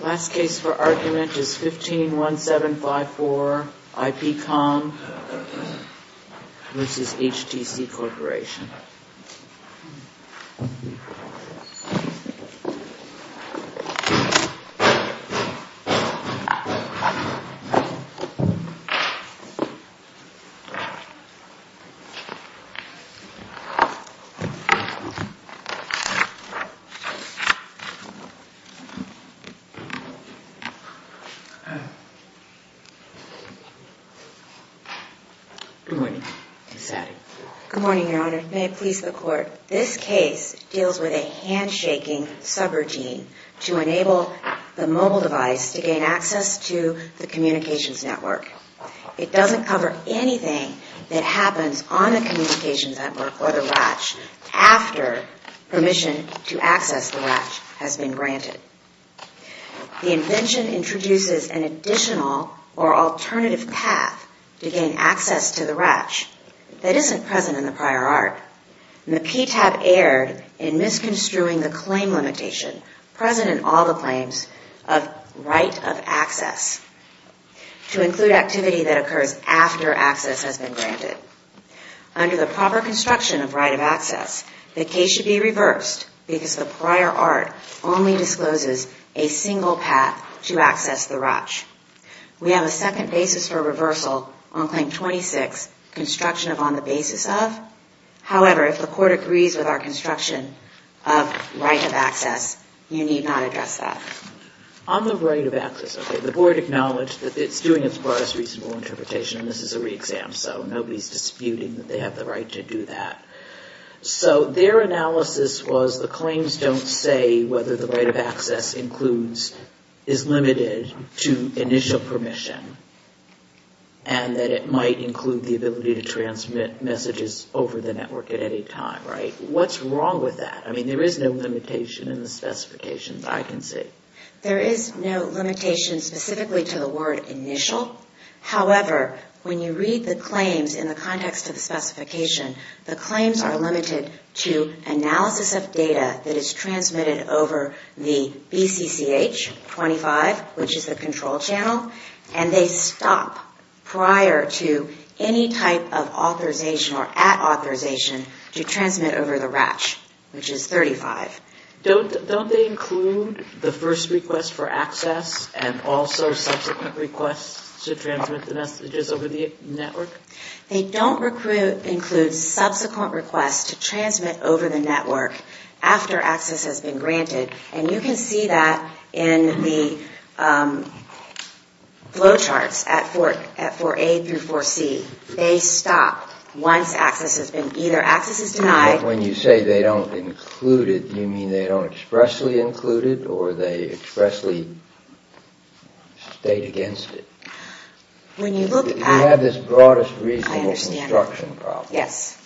Last case for argument is 151754 IPCOM v. HTC Corporation. This case deals with a handshaking subroutine to enable the mobile device to gain access to the communications network. It doesn't cover anything that happens on the communications network or the RACH after permission to access the RACH has been granted. The invention introduces an additional or alternative path to gain access to the RACH that isn't present in the prior art. The PTAB erred in misconstruing the claim limitation present in all the claims of right of access to include activity that occurs after access has been granted. Under the proper construction of right of access, the case should be reversed because the prior art only discloses a single path to access the RACH. We have a second basis for reversal on Claim 26, construction of on the basis of. However, if the Court agrees with our construction of right of access, you need not address that. On the right of access, okay, the Board acknowledged that it's doing as far as reasonable interpretation and this is a re-exam so nobody is disputing that they have the right to do that. So their analysis was the claims don't say whether the right of access includes, is limited to initial permission and that it might include the ability to transmit messages over the network at any time, right? What's wrong with that? I mean, there is no limitation in the specifications, I can see. There is no limitation specifically to the word initial. However, when you read the claims in the context of the specification, the claims are limited to analysis of data that is transmitted over the BCCH 25, which is the control channel, and they stop prior to any type of authorization or at authorization to transmit over the RACH, which is 35. Don't they include the first request for access and also subsequent requests to transmit the messages over the network? They don't include subsequent requests to transmit over the network after access has been granted, and you can see that in the flow charts at 4A through 4C. They stop once access has been, either access is denied... When you say they don't include it, do you mean they don't expressly include it or they expressly state against it? When you look at... You have this broadest reasonable construction problem. Yes.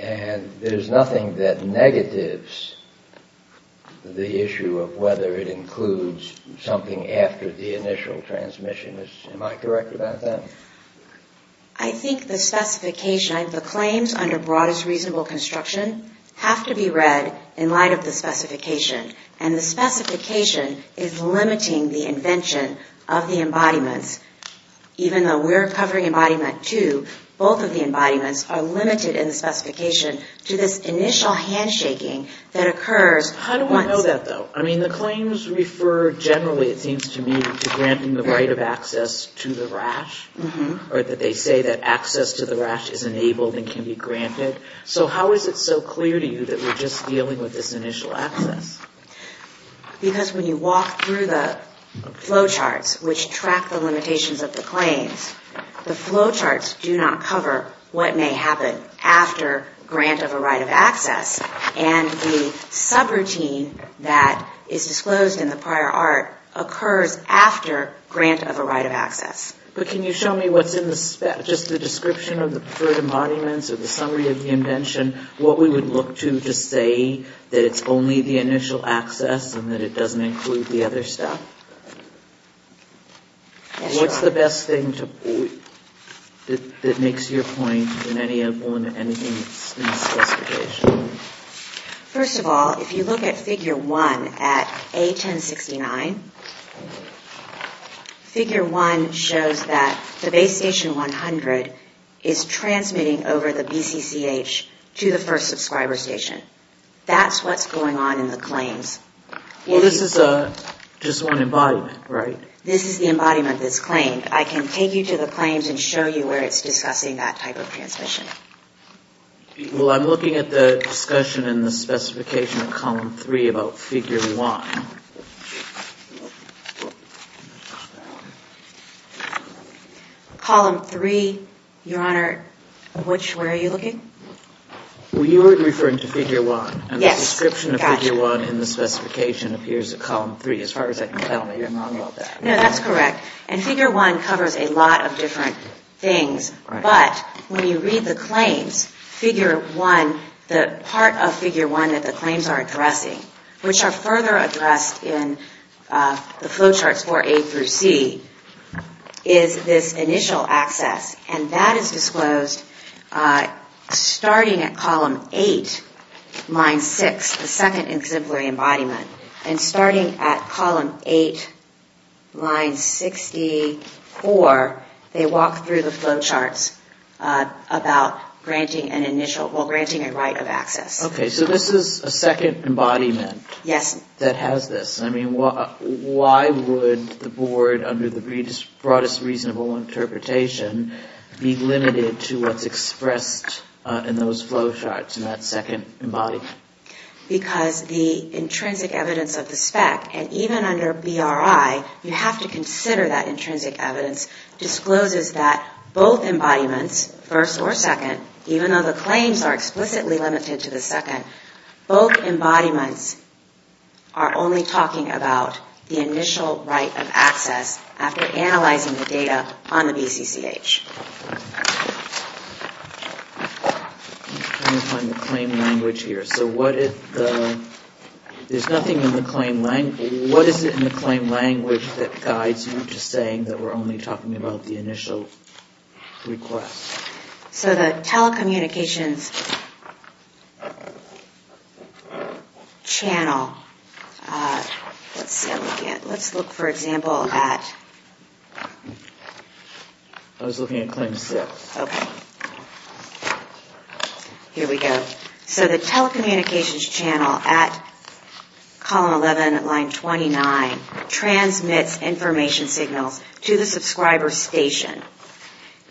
And there is nothing that negatives the issue of whether it includes something after the initial transmission. Am I correct about that? I think the specification, the claims under broadest reasonable construction have to be read in light of the specification, and the specification is limiting the invention of the embodiments. Even though we're covering embodiment two, both of the embodiments are limited in the specification to this initial handshaking that occurs once... How do we know that, though? I mean, the claims refer generally, it seems to me, to granting the right of access to the rash, or that they say that access to the rash is enabled and can be granted. So how is it so clear to you that we're just dealing with this initial access? Because when you walk through the flow charts, which track the limitations of the claims, the flow charts do not cover what may happen after grant of a right of access, and the grant of a right of access. But can you show me what's in the spec, just the description of the preferred embodiments or the summary of the invention, what we would look to to say that it's only the initial access and that it doesn't include the other stuff? Yes, Your Honor. What's the best thing that makes your point in any of the specifications? First of all, if you look at Figure 1 at A1069, Figure 1 shows that the Base Station 100 is transmitting over the BCCH to the first subscriber station. That's what's going on in the claims. Well, this is just one embodiment, right? This is the embodiment that's claimed. I can take you to the claims and show you where it's discussing that type of transmission. Well, I'm looking at the discussion in the specification of Column 3 about Figure 1. Column 3, Your Honor, which, where are you looking? You were referring to Figure 1, and the description of Figure 1 in the specification appears at Column 3. As far as I can tell, you're not wrong about that. No, that's correct. And Figure 1 covers a lot of different things, but when you read the claims, Figure 1, the part of Figure 1 that the claims are addressing, which are further addressed in the flowcharts for A through C, is this initial access. And that is disclosed starting at Column 8, Line 6, the second exemplary embodiment. And starting at Column 8, Line 64, they walk through the flowcharts about the initial access without granting an initial, well, granting a right of access. Okay, so this is a second embodiment that has this. I mean, why would the Board, under the broadest reasonable interpretation, be limited to what's expressed in those flowcharts in that second embodiment? Because the intrinsic evidence of the spec, and even under BRI, you have to consider that even though the claims are explicitly limited to the second, both embodiments are only talking about the initial right of access after analyzing the data on the BCCH. I'm trying to find the claim language here. So what is the, there's nothing in the claim language, what is it in the claim language that guides you to saying that we're only talking about the initial request? So the telecommunications channel, let's look for example at, here we go, so the telecommunications channel at Column 11, Line 29, transmits information signals to the subscriber station.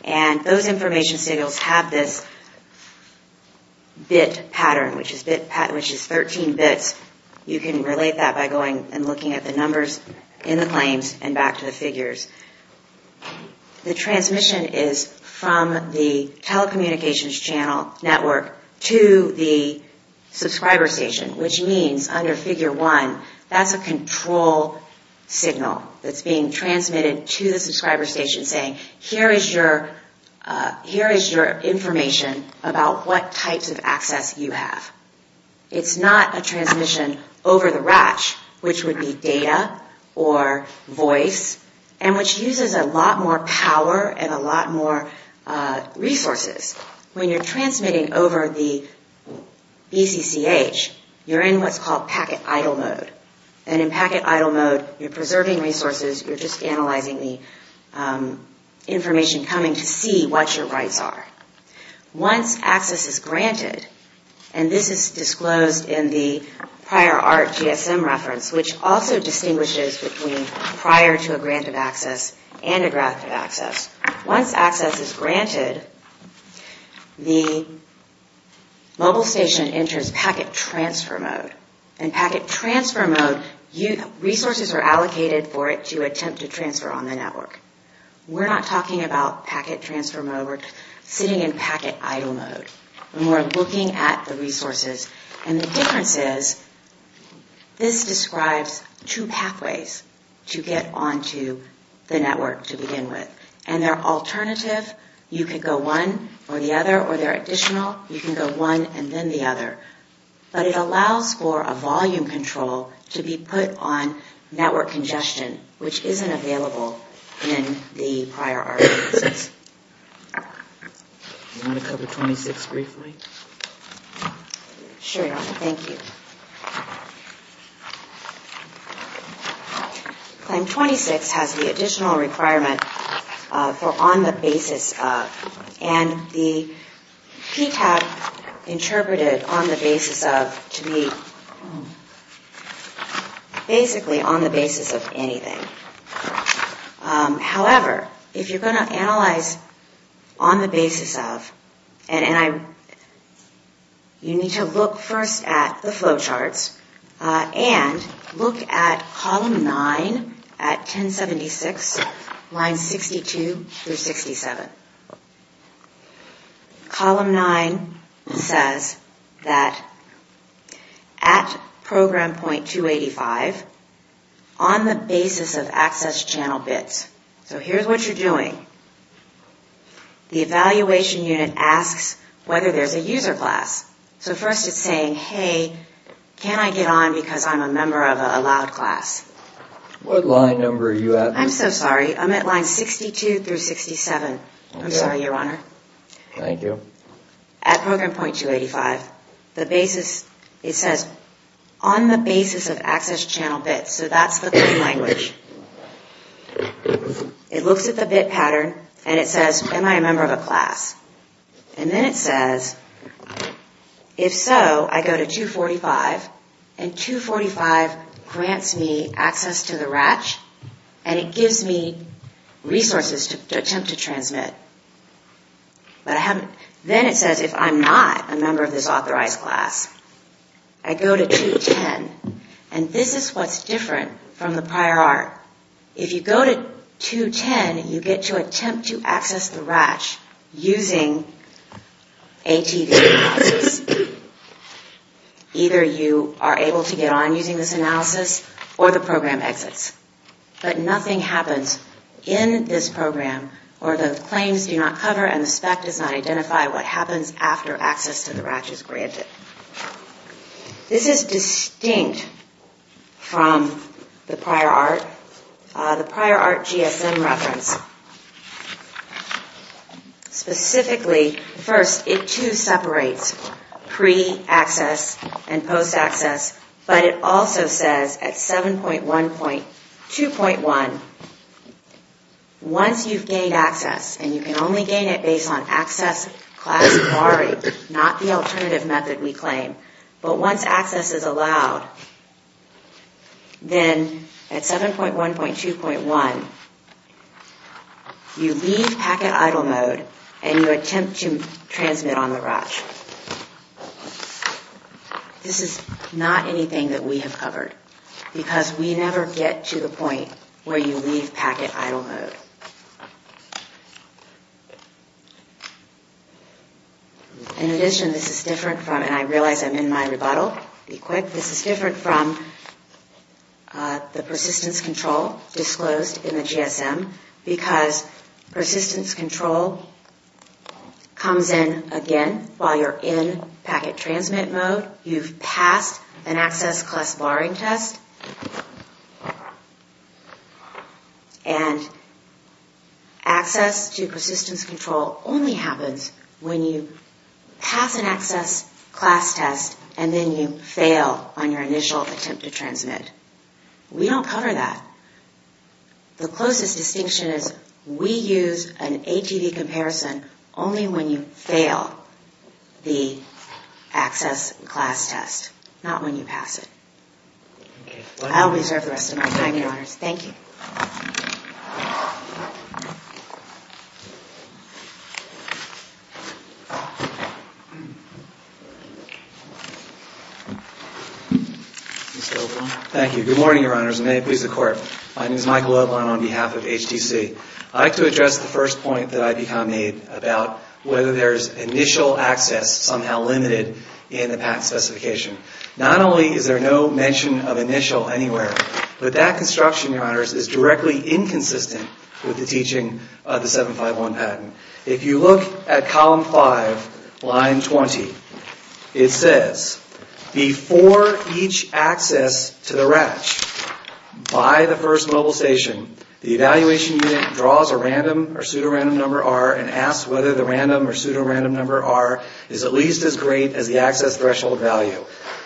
And those information signals have this bit pattern, which is 13 bits. You can relate that by going and looking at the numbers in the claims and back to the figures. The transmission is from the telecommunications channel network to the subscriber station, which means under Figure 1, that's a control signal that's being transmitted to the subscriber station saying, here is your information about what types of access you have. It's not a transmission over the ratch, which would be data or voice, and which uses a lot more power and a lot more resources. When you're transmitting over the BCCH, you're in what's called packet idle mode. And in packet idle mode, you're preserving resources, you're just analyzing the information coming to see what your rights are. Once access is granted, and this is disclosed in the prior ART GSM reference, which also distinguishes between prior to a grant of access and a grant of access, once access is granted, the mobile station enters packet transfer mode. And packet transfer mode, resources are allocated for it to attempt to transfer on the network. We're not talking about packet transfer mode. We're sitting in packet idle mode. And we're looking at the resources. And the difference is, this describes two pathways to get on to the network to begin with. And they're alternative. You could go one or the other, or they're additional. You can go one and then the other. But it allows for a volume control to be put on network congestion, which isn't available in the prior ART. Do you want to cover 26 briefly? Sure. Thank you. Claim 26 has the additional requirement for on the basis of. And the PTAB interpreted on the basis of to be basically on the basis of anything. However, if you're going to analyze on the basis of, and you need to look first at the flowcharts, and look at column 9 at 1076, lines 62 through 67. Column 9 says, if you're going to analyze on the basis of that at program point 285, on the basis of access channel bits. So here's what you're doing. The evaluation unit asks whether there's a user class. So first it's saying, hey, can I get on because I'm a member of a loud class? What line number are you at? I'm so sorry. I'm at line 62 through 67. I'm sorry, Your Honor. Thank you. At program point 285, the basis, it says, on the basis of access channel bits. So that's the key language. It looks at the bit pattern, and it says, am I a member of a class? And then it says, if so, I go to 245, and 245 grants me access to the RACH, and it gives me resources to attempt to transmit. Then it says, if I'm not a member of this authorized class, I go to 210, and this is what's different from the prior art. If you go to 210, you get to attempt to access the RACH using ATV analysis. Either you are able to get on using this analysis, or the program happens in this program, or the claims do not cover and the spec does not identify what happens after access to the RACH is granted. This is distinct from the prior art, the prior art GSM reference. Specifically, first, it two separates pre-access and post-access, but it also says at 7.1.2.1, that if I'm a member of a class, once you've gained access, and you can only gain it based on access class barring, not the alternative method we claim, but once access is allowed, then at 7.1.2.1, you leave packet idle mode, and you attempt to transmit on the RACH. This is not anything that we have covered, because we never get to the point where you leave packet idle mode. In addition, this is different from, and I realize I'm in my rebuttal, be quick, this is different from the persistence control disclosed in the GSM, because persistence control comes in again while you're in packet transmit mode. You've passed an access class barring test, and access to persistence control only happens when you pass an access class test, and then you fail on your initial attempt to transmit. We don't cover that. The closest distinction is we use an ATV comparison only when you fail the access class test, not when you pass it. I'll reserve the rest of my time, Your Honors. Thank you. Thank you. Good morning, Your Honors, and may it please the Court. My name is Michael Loveland on behalf of HTC. I'd like to address the first point that IPCOM made about whether there's initial access somehow limited in the patent specification. Not only is there no mention of initial anywhere, but that construction, Your Honors, is directly inconsistent with the teaching of the 751 patent. If you look at column 5, line 20, it says, before each access to the RACH by the first mobile station, the evaluation unit draws a random or pseudo-random number, R, and asks whether the random or pseudo-random number, R, is at least as great as the access threshold value.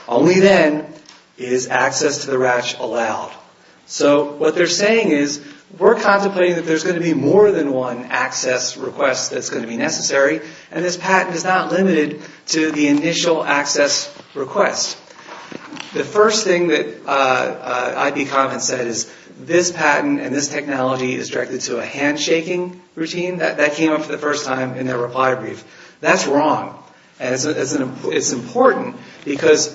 Only then is access to the RACH allowed. So what they're saying is, we're contemplating that there's going to be more than one access request that's going to be necessary, and this patent is not limited to the initial access request. The first thing that IPCOM had said is, this patent and this technology is directed to a handshaking routine. That came up for the first time in their reply brief. That's wrong. It's important because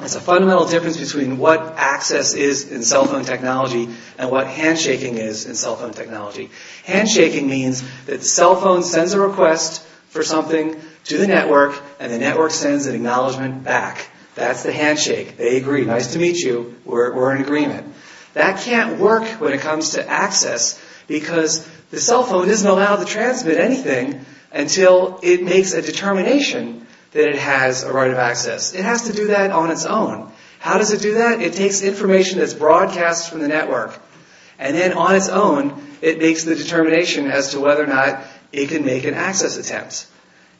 it's a fundamental difference between what access is in cell phone technology and what handshaking is in cell phone technology. Handshaking means that the cell phone sends a request for something to the network, and the network sends an acknowledgment back. That's the handshake. They agree. Nice to meet you. We're in agreement. That can't work when it comes to access because the cell phone isn't allowed to transmit anything until it makes a determination that it has a right of access. It has to do that on its own. How does it do that? It takes information that's broadcast from the network, and then on its own, it makes the determination as to whether or not it can make an access attempt.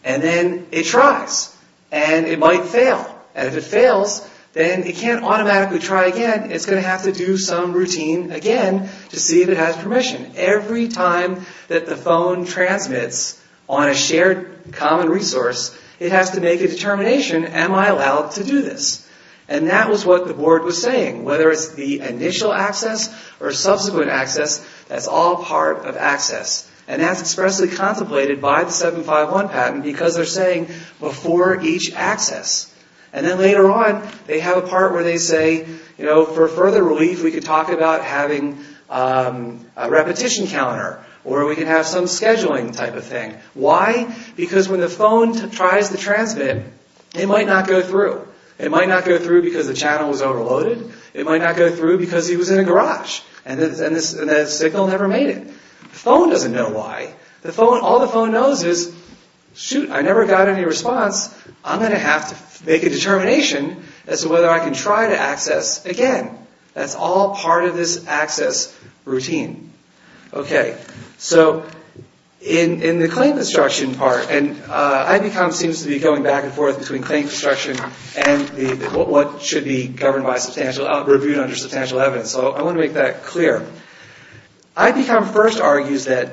Then it tries, and it might fail. If it fails, then it can't automatically try again. It's going to have to do some routine again to see if it has permission. Every time that the phone transmits on a shared common resource, it has to make a determination, am I allowed to do this? That was what the board was saying, whether it's the initial access or subsequent access, that's all part of access. That's expressly contemplated by the 751 patent because they're saying before each access. Then later on, they have a part where they say, for further relief, we could talk about having a repetition counter, or we could have some scheduling type of thing. Why? Because when the phone tries to transmit, it might not go through. It might not go through because the channel was overloaded. It might not go through because he was in a garage, and the signal never made it. The phone doesn't know why. All the phone knows is, shoot, I never got any response. I'm going to have to make a determination as to whether I can try to access routine. In the claim destruction part, and IPCOM seems to be going back and forth between claim destruction and what should be reviewed under substantial evidence. I want to make that clear. IPCOM first argues that,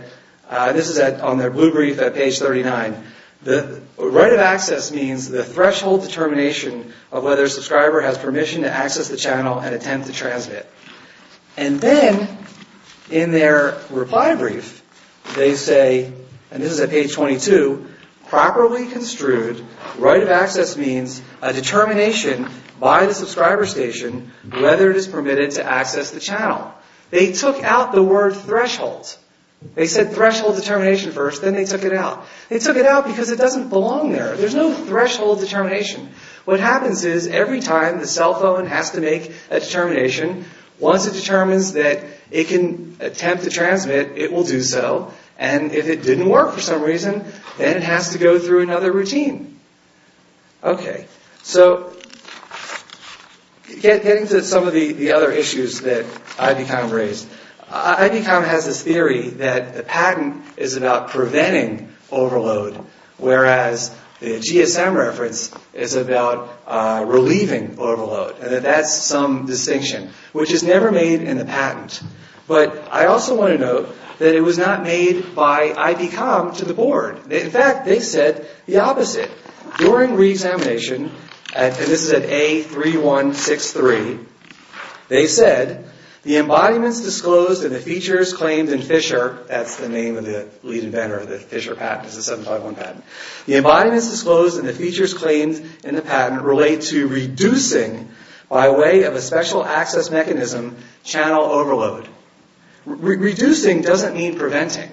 this is on their blue brief at page 39, the right of access means the threshold determination of whether a subscriber has permission to access the channel and attempt to transmit. And then, in their reply brief, they say, and this is at page 22, properly construed, right of access means a determination by the subscriber station whether it is permitted to access the channel. They took out the word threshold. They said threshold determination first, then they took it out. They took it out because it doesn't belong there. There's no threshold determination. What happens is, every time the cell phone has to make a determination, once it determines that it can attempt to transmit, it will do so. And if it didn't work for some reason, then it has to go through another routine. Okay. So, getting to some of the other issues that IPCOM raised. IPCOM has this theory that the patent is about preventing overload, whereas the GSM reference is about relieving overload, and that that's some distinction, which is never made in the patent. But I also want to note that it was not made by IPCOM to the board. In fact, they said the opposite. During reexamination, and this is at A3163, they said, the embodiments disclosed and the features claimed in the patent relate to reducing, by way of a special access mechanism, channel overload. Reducing doesn't mean preventing.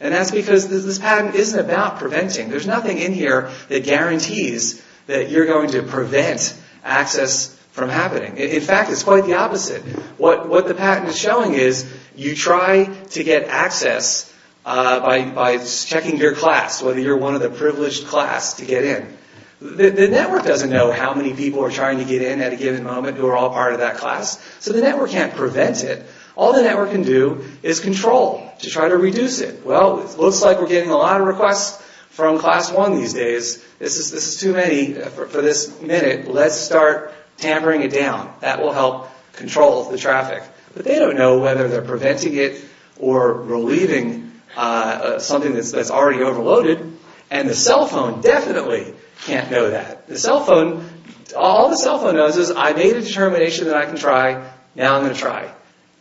And that's because this patent isn't about preventing. There's nothing in here that guarantees that you're going to prevent access from happening. In fact, it's quite the opposite. What the patent is showing is, you try to get access by checking your class, whether you're one of the privileged class to get in. The network doesn't know how many people are trying to get in at a given moment who are all part of that class, so the network can't prevent it. All the network can do is control to try to reduce it. Well, it looks like we're getting a lot of requests from class one these days. This is too many for this minute. Let's start tampering it down. That will help control the traffic. But they don't know whether they're preventing it or relieving something that's already overloaded, and the cell phone definitely can't know that. All the cell phone knows is I made a determination that I can try, now I'm going to try.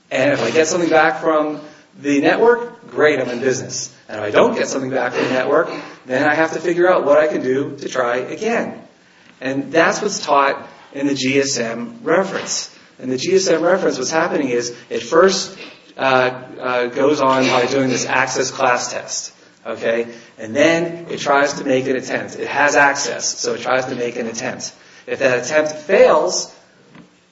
And if I get something back from the network, great, I'm in business. And if I don't get something back from the network, what am I going to do to try again? And that's what's taught in the GSM reference. In the GSM reference, what's happening is, it first goes on by doing this access class test, and then it tries to make an attempt. It has access, so it tries to make an attempt. If that attempt fails,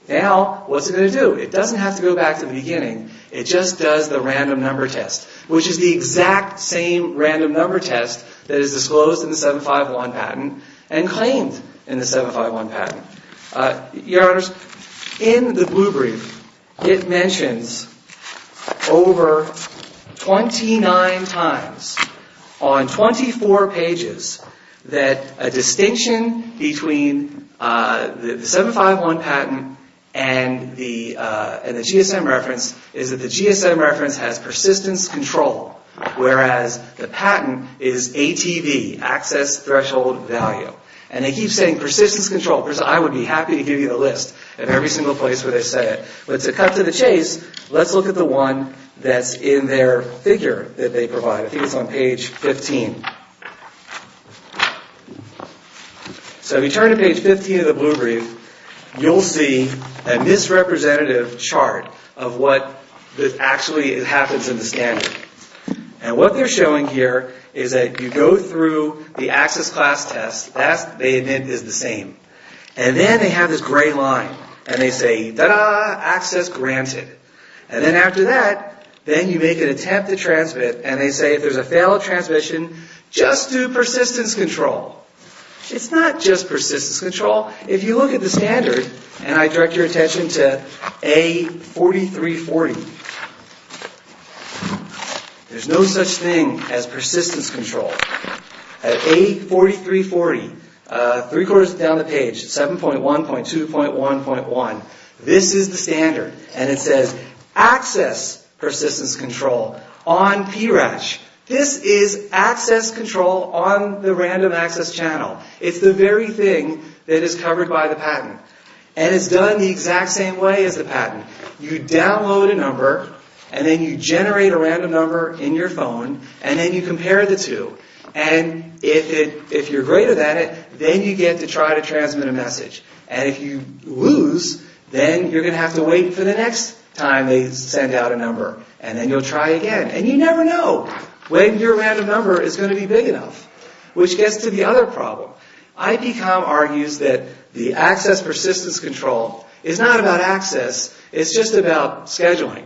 now what's it going to do? It doesn't have to go back to the beginning. It just does the random number test, which is the exact same random number test that is disclosed in the 751 patent and claimed in the 751 patent. Your Honors, in the blue brief, it mentions over 29 times, on 24 pages, that a distinction between the 751 patent and the GSM reference is that the GSM reference has persistence control, whereas the patent is ATV, access threshold value. And they keep saying persistence control, because I would be happy to give you the list of every single place where they say it. But to cut to the chase, let's look at the one that's in their figure that they provide. I think it's on page 15. So if you turn to page 15 of the blue brief, you'll see a misrepresentative chart of what actually happens in the standard. And what they're showing here is that you go through the access class test. That, they admit, is the same. And then they have this gray line, and they say, ta-da, access granted. And then after that, then you make an attempt to transmit, and they say if there's a failed transmission, just do persistence control. It's not just persistence control. If you look at the standard, and I direct your attention to A4340, there's no such thing as persistence control. At A4340, three quarters down the page, 7.1.2.1.1, this is the standard. And it says access persistence control on PRATCH. This is access control on the random access channel. It's the very thing that is covered by the patent. And it's done the exact same way as the patent. You download a number, and then you generate a random number in your phone, and then you compare the two. And if you're greater than it, then you get to try to transmit a message. And if you lose, then you're going to have to wait for the next time they send out a number, and then you'll try again. And you never know when your random number is going to be big enough. Which gets to the other problem. IPCOM argues that the access persistence control is not about access, it's just about scheduling.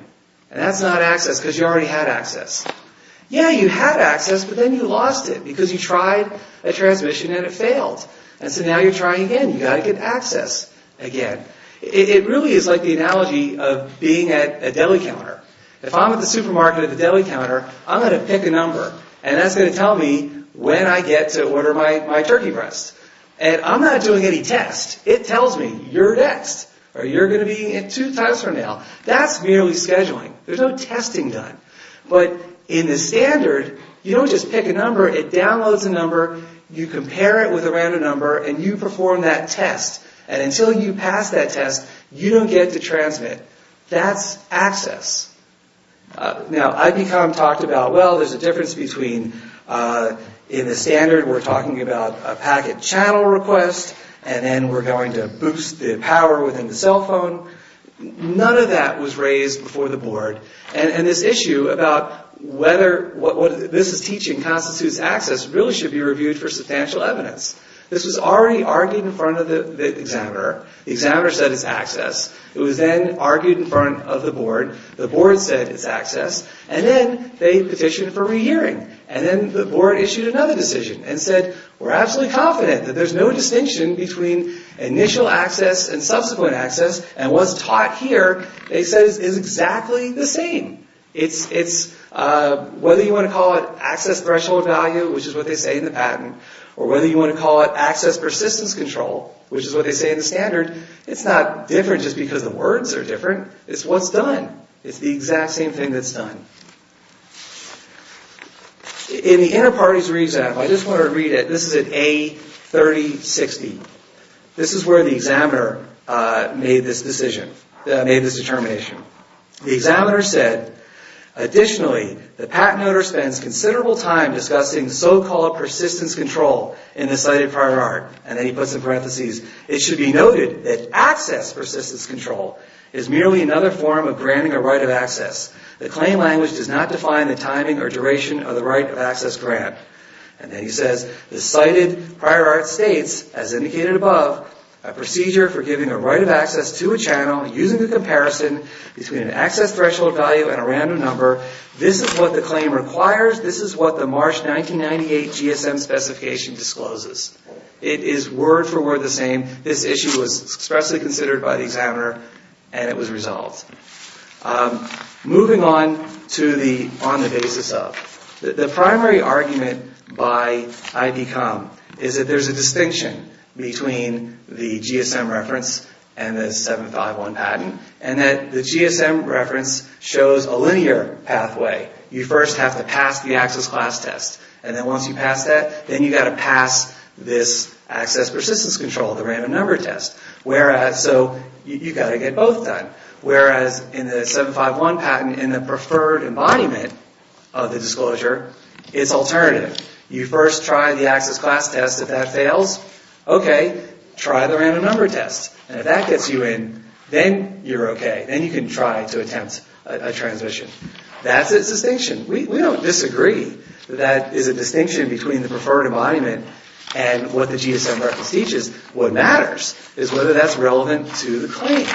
And that's not access because you already had access. Yeah, you had access, but then you lost it because you tried a transmission and it failed. And so now you're trying again. You've got to get access again. It really is like the analogy of being at a deli counter. If I'm at the supermarket at the deli counter, I'm going to pick a number, and that's going to tell me when I get to order my turkey breast. And I'm not doing any tests. It tells me, you're next, or you're going to be two times from now. That's merely scheduling. There's no testing done. But in the standard, you don't just pick a number, it downloads a number, you compare it with a random number, and you perform that test. And until you pass that test, you don't get to transmit. That's access. Now, IPCOM talked about, well, there's a difference between, in the standard we're talking about a packet channel request, and then we're going to boost the power within the cell phone. None of that was raised before the board. And this issue about whether this is teaching constitutes access really should be reviewed for substantial evidence. This was already argued in front of the examiner. The examiner said it's access. It was then argued in front of the board. The board said it's access. And then they petitioned for re-hearing. And then the board issued another decision and said, we're absolutely confident that there's no distinction between initial access and subsequent access. And what's taught here, they said, is exactly the same. Whether you want to call it access threshold value, which is what they say in the patent, or whether you want to call it access persistence control, which is what they say in the standard, it's not different just because the words are different. It's what's done. It's the exact same thing that's done. In the inter-parties re-exam, I just want to read it. This is at A3060. This is where the examiner made this decision, made this determination. The examiner said, additionally, the patent owner spends considerable time discussing so-called persistence control in the cited prior art. And then he puts in parentheses, it should be noted that access persistence control is merely another form of granting a right of access. The claim language does not define the timing or duration of the right of access grant. And then he says, the cited prior art states, as indicated above, a procedure for giving a right of access to a channel using a comparison between an access threshold value and a random number. This is what the claim requires. This is what the March 1998 GSM specification discloses. It is word for word by the examiner, and it was resolved. Moving on to the on the basis of. The primary argument by IDCOM is that there's a distinction between the GSM reference and the 751 patent. And that the GSM reference shows a linear pathway. You first have to pass the access class test. And then once you pass that, then you've got to pass this access persistence control, the random number test. Whereas, so you've got to get both done. Whereas in the 751 patent, in the preferred embodiment of the disclosure, it's alternative. You first try the access class test. If that fails, okay, try the random number test. And if that gets you in, then you're okay. Then you can try to attempt a transmission. That's its distinction. We don't disagree. That is a different embodiment. And what the GSM reference teaches, what matters is whether that's relevant to the claim.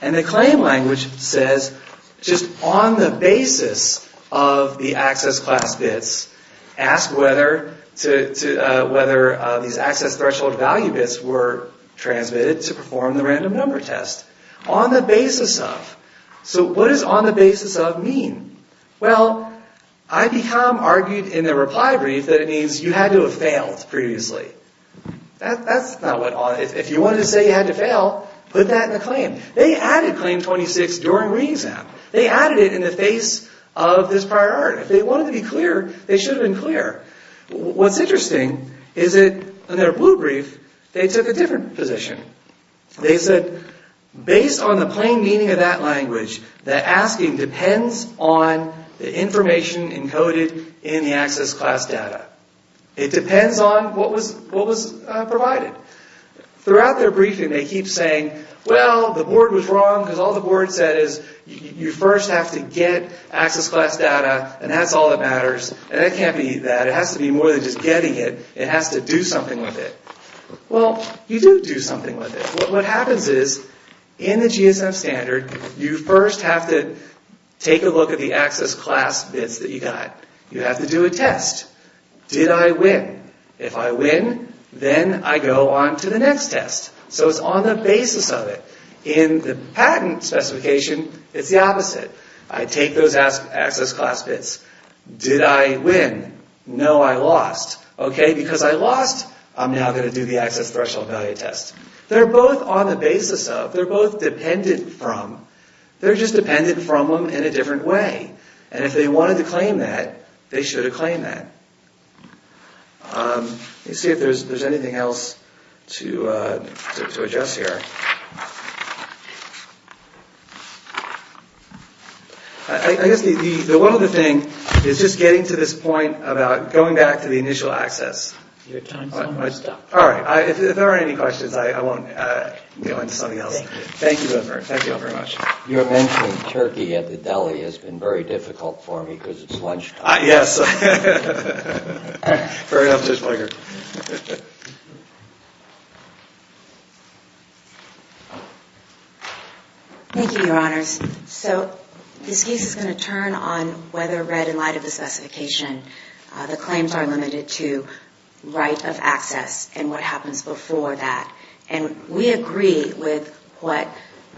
And the claim language says, just on the basis of the access class bits, ask whether these access threshold value bits were transmitted to perform the random number test. On the basis of. So what does on the basis of mean? Well, IDCOM argued in their reply brief that it means you had to have failed previously. That's not what, if you wanted to say you had to fail, put that in the claim. They added claim 26 during re-exam. They added it in the face of this priority. If they wanted to be clear, they should have been clear. What's interesting is that in their blue brief, they took a different position. They said, based on the plain meaning of that language, that asking depends on the information encoded in the access class data. It depends on what was provided. Throughout their briefing, they keep saying, well, the board was wrong because all the board said is you first have to get access class data, and that's all that matters. And that can't be that. It has to be more than just getting it. It has to do something with it. Well, you do do something with it. What happens is, in the GSM standard, you first have to take a look at the access class bits that you got. You have to do a test. Did I win? If I win, then I go on to the next test. So it's on the basis of it. In the patent specification, it's the opposite. I take those access class bits. Did I win? No, I lost. Okay, because I lost, I'm now going to do the access threshold value test. They're both on the basis of, they're both dependent from, they're just dependent from them in a different way. And if they wanted to claim that, they should have claimed that. Let's see if there's anything else to adjust here. I guess the one other thing is just getting to this point about going back to the initial access. Your time's almost up. All right. If there aren't any questions, I won't go into something else. Thank you, both of you. Thank you all very much. Your mention of Turkey at the deli has been very difficult for me because it's lunchtime. Yes. Very often, it's my turn. Thank you, Your Honors. So this case is going to turn on whether read in light of the specification the claims are limited to right of access and what happens before that. And we agree with what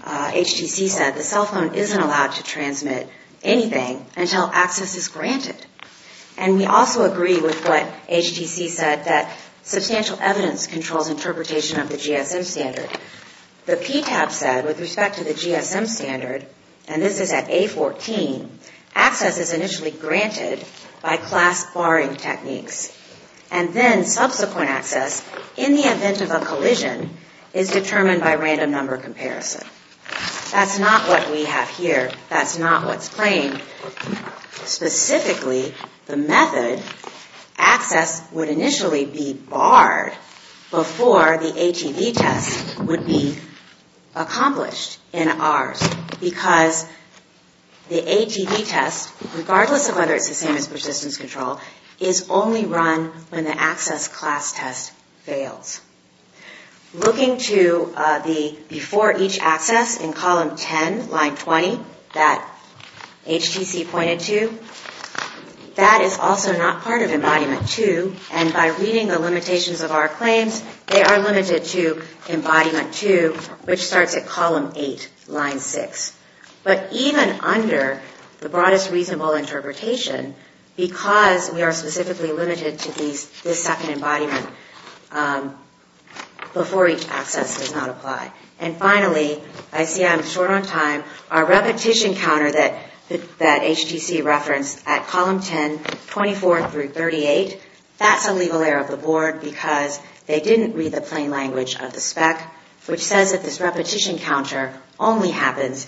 HTC said. The cell phone isn't allowed to transmit anything until access is granted. And we also agree with what HTC said, that substantial evidence controls interpretation of the GSM standard. The PTAP said, with respect to the GSM standard, and this is at A14, access is initially granted by class barring techniques. And then subsequent access, in the event of a collision, is determined by random number comparison. That's not what we have here. That's not what's claimed. Specifically, the method, access would initially be barred before the ATV test would be accomplished in ours. Because the test, regardless of whether it's the same as persistence control, is only run when the access class test fails. Looking to the before each access in column 10, line 20, that HTC pointed to, that is also not part of embodiment 2. And by reading the limitations of our claims, they are limited to embodiment 2, which starts at column 8, line 6. But even under the broadest reasonable interpretation, because we are specifically limited to this second embodiment, before each access does not apply. And finally, I see I'm short on time, our repetition counter that HTC referenced at column 10, 24 through 38, that's a legal error of the board, because they didn't read the plain language of the spec, which says that this repetition counter only happens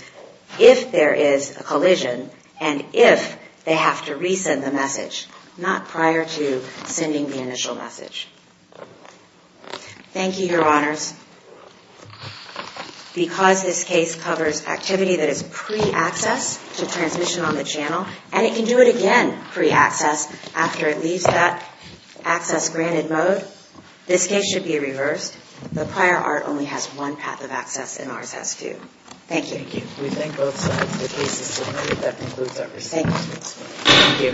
if there is a collision, and if they have to resend the message, not prior to sending the initial message. Thank you, your honors. Because this case covers activity that is pre-access to transmission on the channel, and it can do it again pre-access after it leaves that access granted mode, this case should be reversed. The prior art only has one path of access and ours has two. Thank you. Thank you. We thank both sides of the case as submitted. That concludes our proceedings.